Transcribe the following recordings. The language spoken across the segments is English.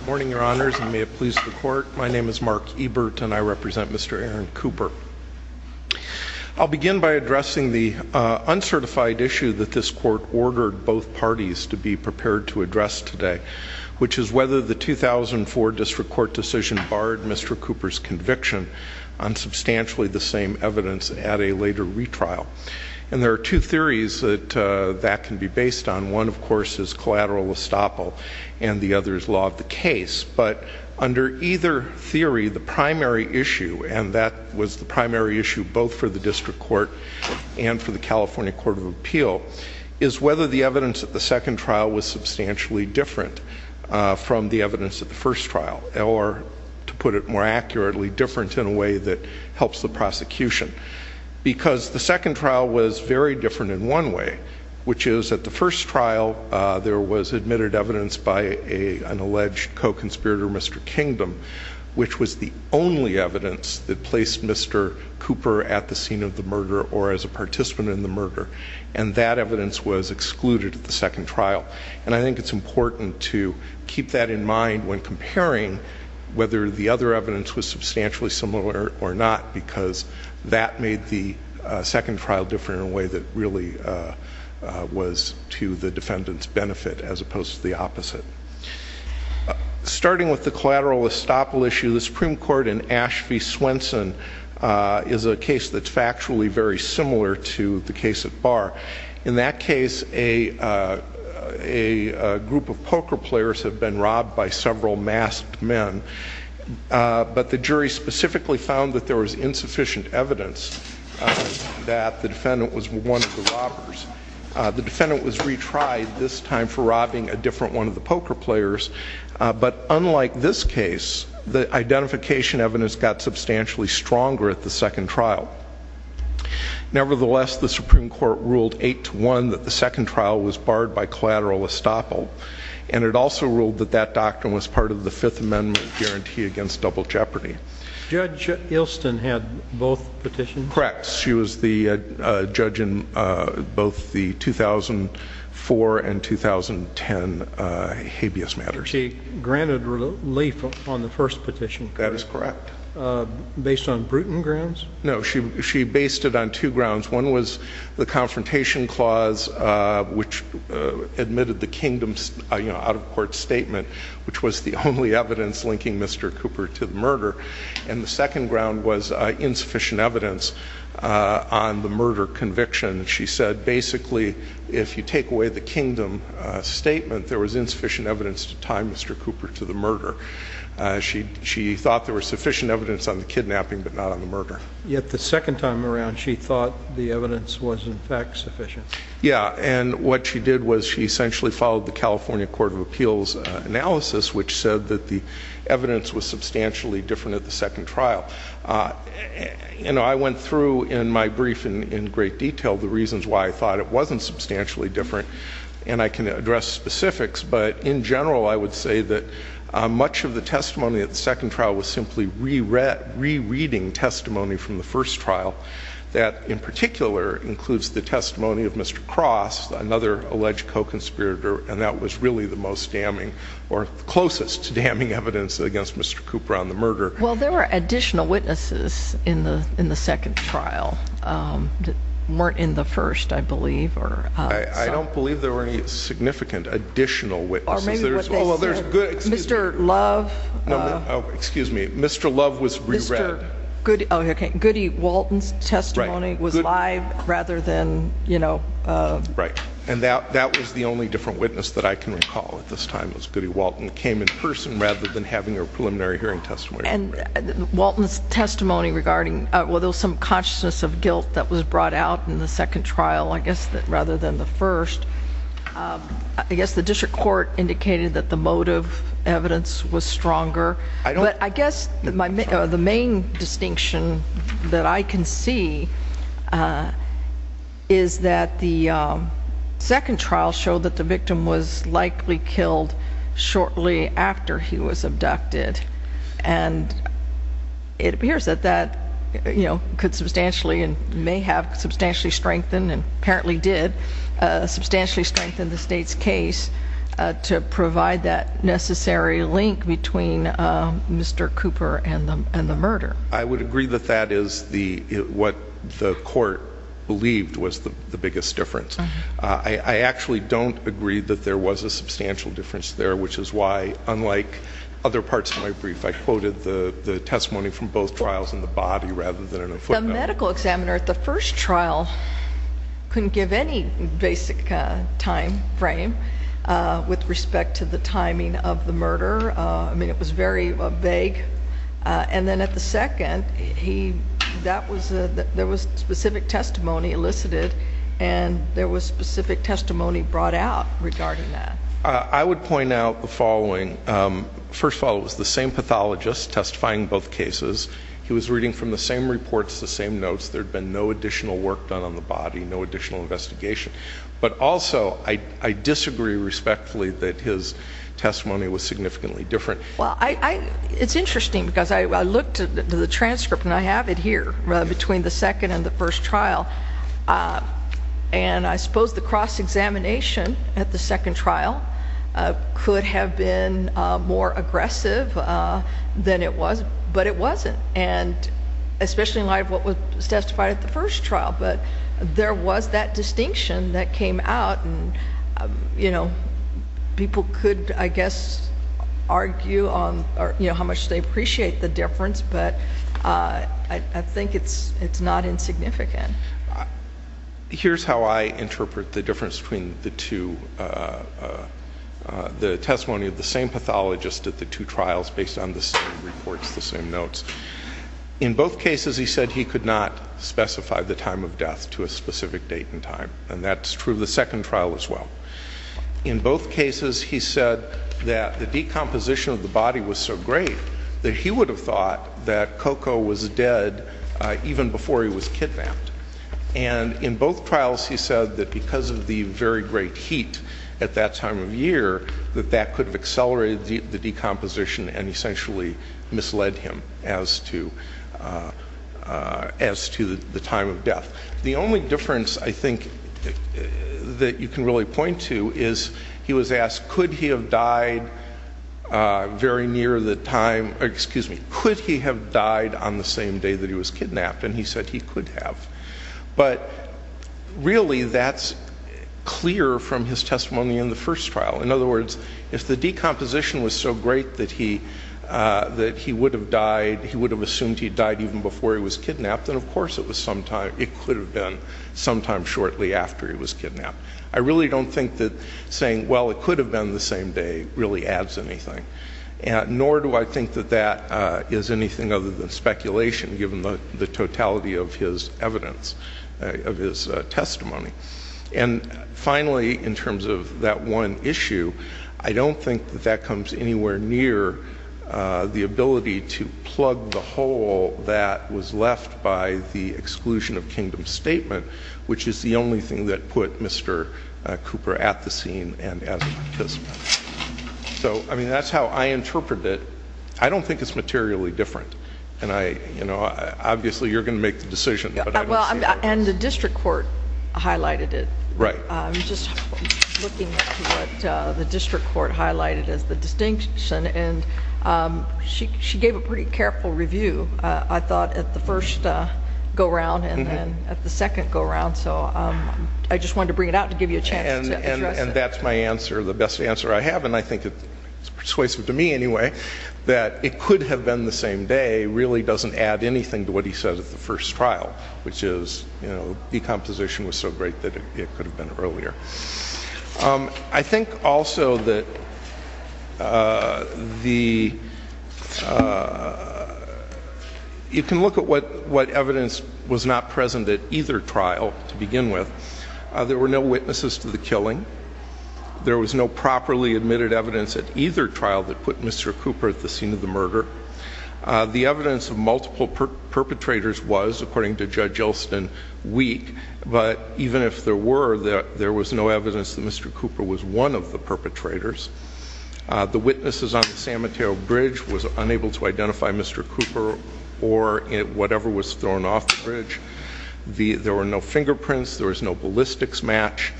Good morning, your honors, and may it please the court. My name is Mark Ebert, and I represent Mr. Aaron Cooper. I'll begin by addressing the uncertified issue that this court ordered both parties to be prepared to address today, which is whether the 2004 district court decision barred Mr. Cooper's conviction on substantially the same evidence at a later retrial. And there are two theories that that can be based on. One, of course, is collateral estoppel, and the other is law of the case. But under either theory, the primary issue, and that was the primary issue both for the district court and for the California Court of Appeal, is whether the evidence at the second trial was substantially different from the evidence at the first trial, or to put it more accurately, different in a way that helps the prosecution. Because the second trial was very different in one way, which is at the first trial there was admitted evidence by an alleged co-conspirator, Mr. Kingdom, which was the only evidence that placed Mr. Cooper at the scene of the murder or as a participant in the murder, and that evidence was excluded at the second trial. And I think it's important to keep that in mind when comparing whether the other evidence was substantially similar or not, because that made the second trial different in a way that really was to the defendant's benefit, as opposed to the opposite. Starting with the collateral estoppel issue, the Supreme Court in Ashby Swenson is a case that's factually very similar to the case at Barr. In that case, a defendant was robbed by several masked men, but the jury specifically found that there was insufficient evidence that the defendant was one of the robbers. The defendant was retried, this time for robbing a different one of the poker players, but unlike this case, the identification evidence got substantially stronger at the second trial. Nevertheless, the Supreme Court ruled 8-1 that the second trial was barred by collateral estoppel, and it also ruled that that doctrine was part of the Fifth Amendment guarantee against double jeopardy. Judge Ilston had both petitions? Correct. She was the judge in both the 2004 and 2010 habeas matters. She granted relief on the first petition? That is correct. Based on Bruton grounds? No, she based it on two grounds. One was the confrontation clause, which admitted the kingdom's, you know, out-of-court statement, which was the only evidence linking Mr. Cooper to the murder, and the second ground was insufficient evidence on the murder conviction. She said basically, if you take away the kingdom statement, there was insufficient evidence to tie Mr. Cooper to the murder. She thought there was sufficient evidence on the kidnapping, but not on the murder. Yet the second time around, she thought the evidence was, in fact, sufficient. Yeah, and what she did was she essentially followed the California Court of Appeals analysis, which said that the evidence was substantially different at the second trial. You know, I went through in my brief in great detail the reasons why I thought it wasn't substantially different, and I can address specifics, but in general, I would say that much of the testimony at the second trial was simply rereading testimony from the first trial. That, in particular, includes the testimony of Mr. Cross, another alleged co-conspirator, and that was really the most damning or closest to damning evidence against Mr. Cooper on the murder. Well, there were additional witnesses in the in the second trial weren't in the first, I believe. I don't believe there were any significant additional witnesses. Mr. Love. Excuse me, Mr. Love was re-read. Oh, okay, Goody Walton's testimony was live rather than, you know. Right, and that that was the only different witness that I can recall at this time. It was Goody Walton who came in person rather than having a preliminary hearing testimony. Walton's testimony regarding, well, there was some consciousness of guilt that was brought out in the second trial, I guess, rather than the first. I guess the district court indicated that the motive evidence was stronger, but I guess the main distinction that I can see is that the second trial showed that the victim was likely killed shortly after he was abducted, and it appears that that, you know, could substantially and may have substantially strengthened, and apparently did substantially strengthen the state's case to provide that necessary link between Mr. Cooper and the murder. I would agree that that is the, what the court believed was the biggest difference. I actually don't agree that there was a substantial difference there, which is why, unlike other parts of my brief, I quoted the testimony from both trials in the body rather than in a footnote. The medical examiner at the first trial couldn't give any basic time frame with respect to the timing of the murder. I mean, it was very vague. And then at the second, he, that was a, there was specific testimony elicited, and there was specific testimony brought out regarding that. I would point out the following. First of all, it was the same pathologist testifying both cases. He was reading from the same reports, the same notes. There had been no additional work done on the body, no additional investigation, but also I disagree respectfully that his testimony was significantly different. Well, I, it's interesting because I looked at the transcript, and I have it here, between the second and the first trial, and I suppose the cross-examination at the second trial could have been more aggressive than it was, but it wasn't, and especially in light of what was testified at the first trial, but there was that distinction that came out, and you know, people could, I guess, argue on, you know, how much they appreciate the difference, but I think it's, it's not insignificant. Here's how I interpret the difference between the two, the testimony of the same pathologist at the two trials based on the same reports, the same notes. In both cases, he said he could not specify the time of death to a specific date and time, and that's true of the second trial as well. In both cases, he said that the decomposition of the body was so great that he would have thought that Coco was dead even before he was kidnapped, and in both trials, he said that because of the very great heat at that time of year, that that could have accelerated the decomposition and essentially misled him as to as to the time of death. The only difference, I think, that you can really point to is he was asked, could he have died very near the time, excuse me, could he have died on the same day that he was kidnapped, and he said he could have, but really, that's clear from his testimony in the first trial. In other words, if the decomposition was so great that he, that he would have died, he would have assumed he died even before he was kidnapped, then of course it was sometime, it could have been sometime shortly after he was kidnapped. I really don't think that saying, well, it could have been the same day, really adds anything, and nor do I think that that is anything other than speculation, given the totality of his evidence, of his testimony, and finally, in terms of that one issue, I don't think that that comes anywhere near the ability to plug the hole that was left by the exclusion of Kingdom's statement, which is the only thing that put Mr. Cooper at the scene and as a participant. So, I mean, that's how I interpret it. I don't think it's materially different, and I, you know, obviously you're going to make the decision, but I don't see that as... And the district court highlighted it. Right. I'm just looking at what the district court highlighted as the distinction, and she gave a pretty careful review, I thought, at the first go-around and then at the second go-around. So, I just wanted to bring it out to give you a chance. And that's my answer, the best answer I have, and I think it's persuasive to me, anyway, that it could have been the same day really doesn't add anything to what he said at the first trial, which is, you know, decomposition was so great that it could have been earlier. I think also that the... You can look at what evidence was not present at either trial to begin with. There were no witnesses to the killing. There was no properly admitted evidence at either trial that put Mr. Cooper at the scene of the murder. The evidence of multiple perpetrators was, according to Judge Elston, weak. But even if there were, there was no evidence that Mr. Cooper was one of the perpetrators. The witnesses on the San Mateo Bridge was unable to identify Mr. Cooper or whatever was thrown off the bridge. There were no fingerprints. There was no ballistics match.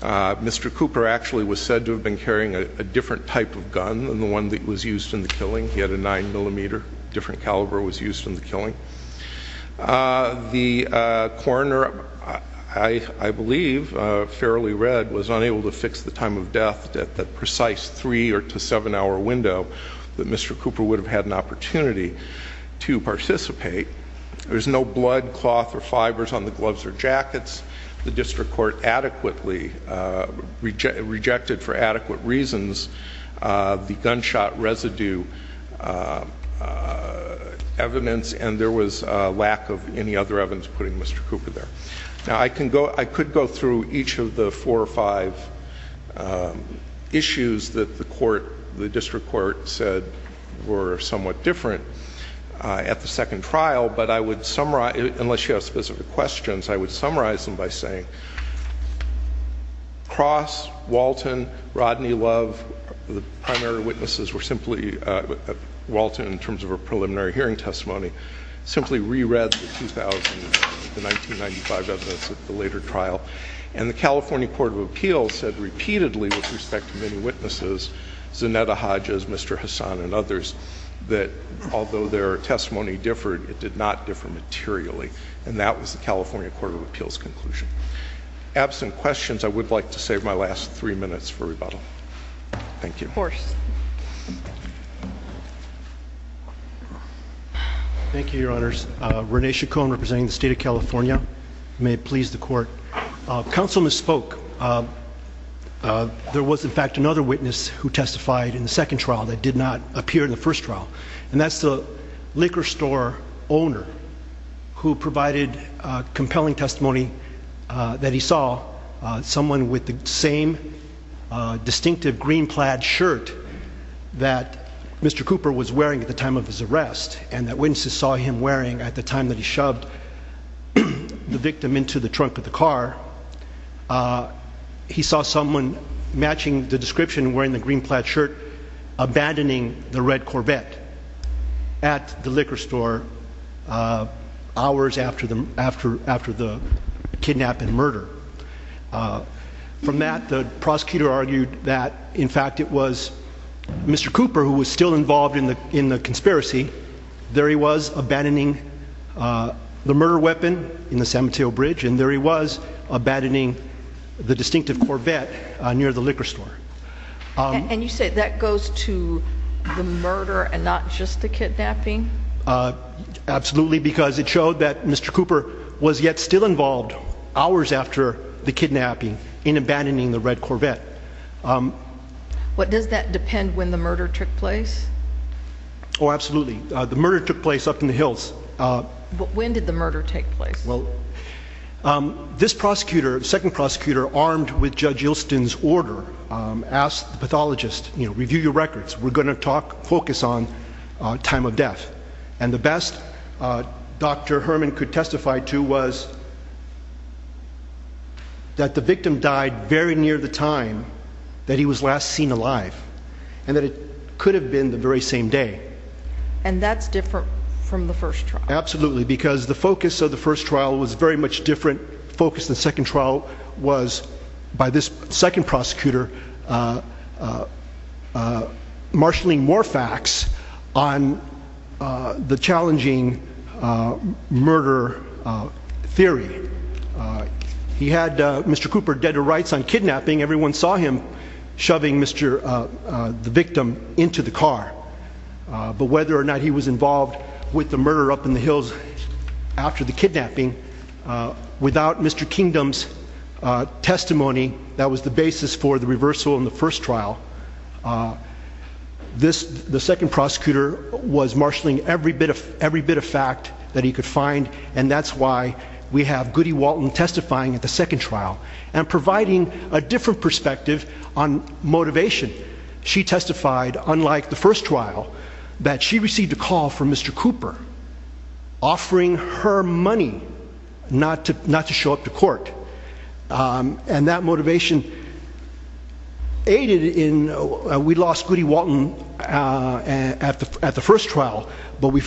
Mr. Cooper actually was said to have been carrying a different type of gun than the one that was used in the killing. He had a nine millimeter. A different caliber was used in the killing. The coroner, I believe, fairly read, was unable to fix the time of death at that precise three or to seven hour window that Mr. Cooper would have had an opportunity to participate. There's no blood, cloth, or fibers on the gloves or jackets. The district court adequately rejected, for adequate reasons, the gunshot residue evidence, and there was a lack of any other evidence putting Mr. Cooper there. Now, I could go through each of the four or five issues that the court, the district court, said were somewhat different at the second trial, but I would summarize, unless you have specific questions, I would summarize them by saying Cross, Walton, Rodney Love, the primary witnesses were simply Walton, in terms of a preliminary hearing testimony, simply re-read the 1995 evidence at the later trial, and the California Court of Appeals said repeatedly, with respect to many witnesses, Zanetta Hodges, Mr. Hassan, and others, that although their testimony differed, it did not differ materially. And that was the California Court of Appeals conclusion. Absent questions, I would like to save my last three minutes for rebuttal. Thank you. Thank you, Your Honors. Rene Chacon, representing the state of California, may it please the court. Councilman spoke. There was, in fact, another witness who testified in the second trial that did not appear in the first trial, and that's the liquor store owner who provided compelling testimony that he saw someone with the same distinctive green plaid shirt that Mr. Cooper was wearing at the time of his arrest, and that witnesses saw him wearing at the time that he shoved the victim into the trunk of the car. He saw someone matching the description, wearing the green plaid shirt, abandoning the red Corvette at the liquor store hours after the kidnapping murder. From that, the prosecutor argued that, in fact, it was Mr. Cooper who was still involved in the conspiracy. There he was, abandoning the murder weapon in the San Mateo Bridge, and there he was, abandoning the distinctive Corvette near the liquor store. And you say that goes to the murder and not just the kidnapping? Absolutely, because it showed that Mr. Cooper was yet still involved hours after the kidnapping in abandoning the red Corvette. But does that depend when the murder took place? Oh, absolutely. The murder took place up in the hills. When did the murder take place? This prosecutor, the second prosecutor, armed with Judge Ilston's order, asked the pathologist, you know, review your records. We're going to talk, focus on time of death. And the best Dr. Herman could testify to was that the victim died very near the time that he was last seen alive, and that it could have been the very same day. And that's different from the first trial. Absolutely, because the focus of the first trial was very much different. The focus of the second trial was, by this second prosecutor, marshalling more facts on the challenging murder theory. He had Mr. Cooper dead to rights on kidnapping. Everyone saw him shoving the victim into the car. But whether or not he was involved with the murder up in the hills after the kidnapping, without Mr. Kingdom's testimony, that was the basis for the reversal in the first trial. The second prosecutor was marshalling every bit of fact that he could find. And that's why we have Goody Walton testifying at the second trial and providing a different perspective on motivation. She testified, unlike the first trial, that she received a call from Mr. Cooper and that motivation aided in, we lost Goody Walton at the first trial, but we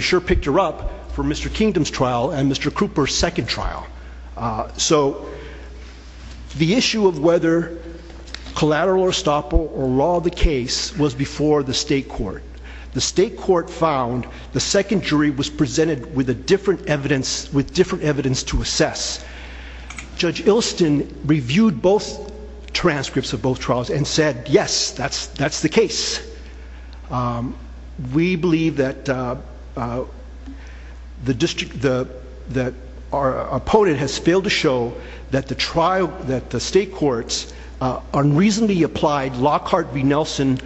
sure picked her up for Mr. Kingdom's trial and Mr. Cooper's second trial. So, the issue of whether collateral or estoppel or raw the case was before the state court. The state court found the second jury was presented with different evidence to assess. Judge Ilston reviewed both transcripts of both trials and said, yes, that's that's the case. We believe that the district, that our opponent has failed to show that the trial, that the state courts unreasonably applied Lockhart v. Nelson,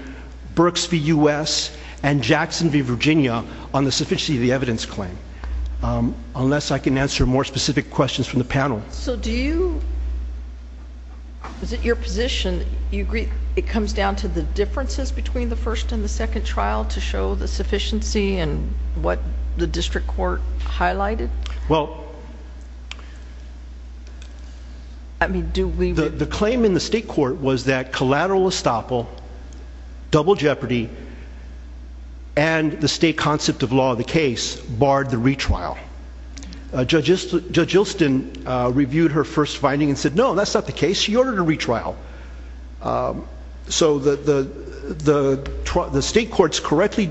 Burks v. U.S. and Jackson v. Virginia on the sufficiency of the evidence claim. Unless I can answer more specific questions from the panel. So do you, is it your position, you agree it comes down to the differences between the first and the second trial to show the sufficiency and what the district court highlighted? Well, I mean, do we? The claim in the state court was that collateral estoppel, double jeopardy, and the state concept of law of the case barred the retrial. Judge Ilston reviewed her first finding and said, no, that's not the case. She ordered a retrial. So the state courts correctly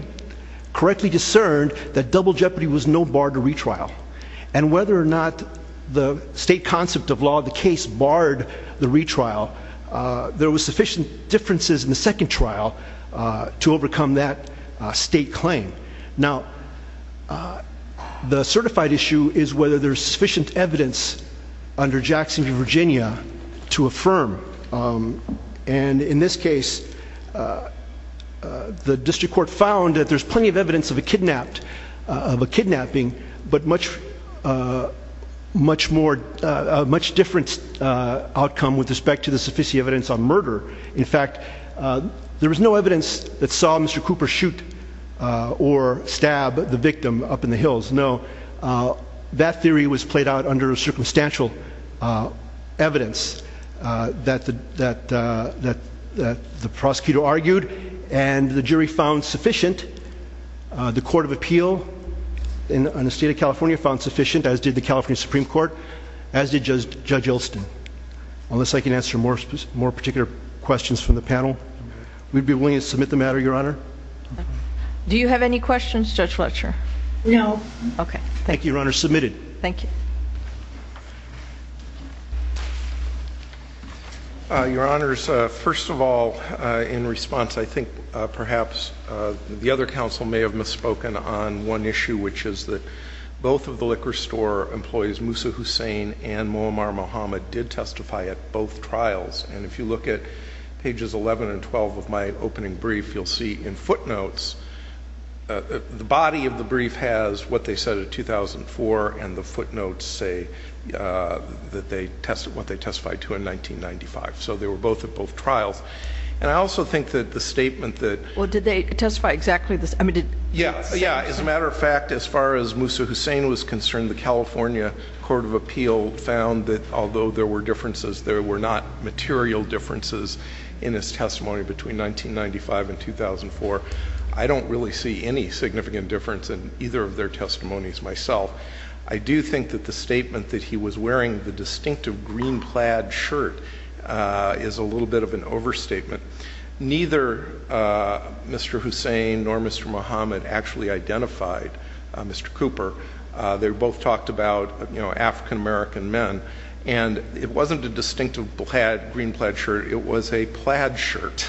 discerned that double jeopardy was no bar to retrial. And whether or not the state concept of law of the case barred the retrial, there was sufficient differences in the second trial to overcome that state claim. Now, the certified issue is whether there's sufficient evidence under Jackson v. Virginia to affirm. And in this case, the district court found that there's plenty of evidence of a kidnapped, of a kidnapping, but much, much more, much different outcome with respect to the sufficiency evidence on murder. In fact, there was no evidence that saw Mr. Cooper shoot or stab the victim up in the hills. No. That theory was played out under a circumstantial evidence that the, that, that, that the prosecutor argued and the jury found sufficient. The Court of Appeal in the state of California found sufficient, as did the California Supreme Court, as did Judge Ilston. Unless I can answer more, more particular questions from the panel, we'd be willing to submit the matter, Your Honor. Do you have any questions, Judge Fletcher? No. Okay. Thank you, Your Honor. Submitted. Thank you. Your Honors, first of all, in response, I think perhaps the other counsel may have misspoken on one issue, which is that both of the liquor store employees, Musa Hussein and Muammar Mohamed, did testify at both trials. And if you look at pages 11 and 12 of my opening brief, you'll see in footnotes, the body of the brief has what they said in 2004 and the footnotes say that they tested, what they testified to in 1995. So they were both at both trials. And I also think that the statement that... Well, did they testify exactly this? I mean, did... Yeah, as a matter of fact, as far as Musa Hussein was concerned, the California Court of Appeal found that although there were differences, there were not material differences in his testimony between 1995 and 2004. I don't really see any significant difference in either of their testimonies myself. I do think that the statement that he was wearing the distinctive green plaid shirt is a little bit of an overstatement. Neither Mr. Hussein nor Mr. Mohamed actually identified Mr. Cooper. They both talked about African American men. And it wasn't a distinctive green plaid shirt. It was a plaid shirt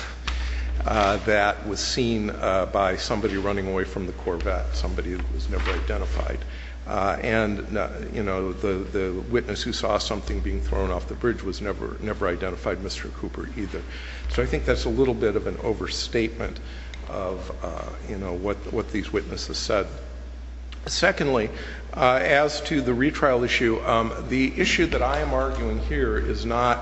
that was seen by somebody running away from the Corvette, somebody who was never identified. And the witness who saw something being thrown off the bridge was never identified Mr. Cooper either. So I think that's a little bit of an overstatement of what these witnesses said. Secondly, as to the retrial issue, the issue that I am arguing here is not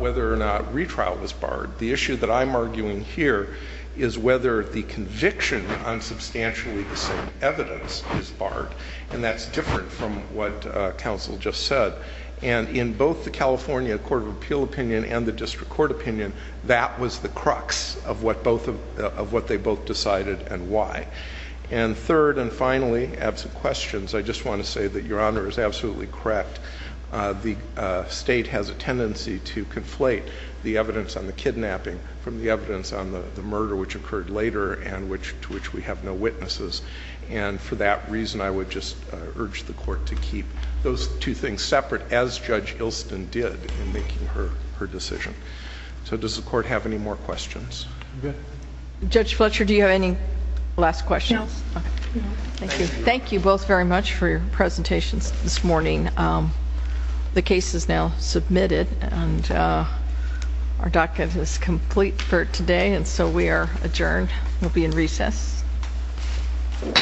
whether or not retrial was barred. The issue that I'm arguing here is whether the conviction on substantially the same evidence is barred. And that's different from what counsel just said. And in both the California Court of Appeal opinion and the District Court opinion, that was the crux of what they both decided and why. And third and finally, absent questions, I just want to say that your honor is absolutely correct. The state has a tendency to conflate the evidence on the kidnapping from the evidence on the murder which occurred later and to which we have no witnesses. And for that reason, I would just urge the court to keep those two things separate as Judge Hilston did in making her decision. So does the court have any more questions? Good. Judge Fletcher, do you have any last questions? No, thank you. Thank you both very much for your presentations this morning. The case is now submitted and our docket is complete for today and so we are adjourned. We'll be in recess. All rise.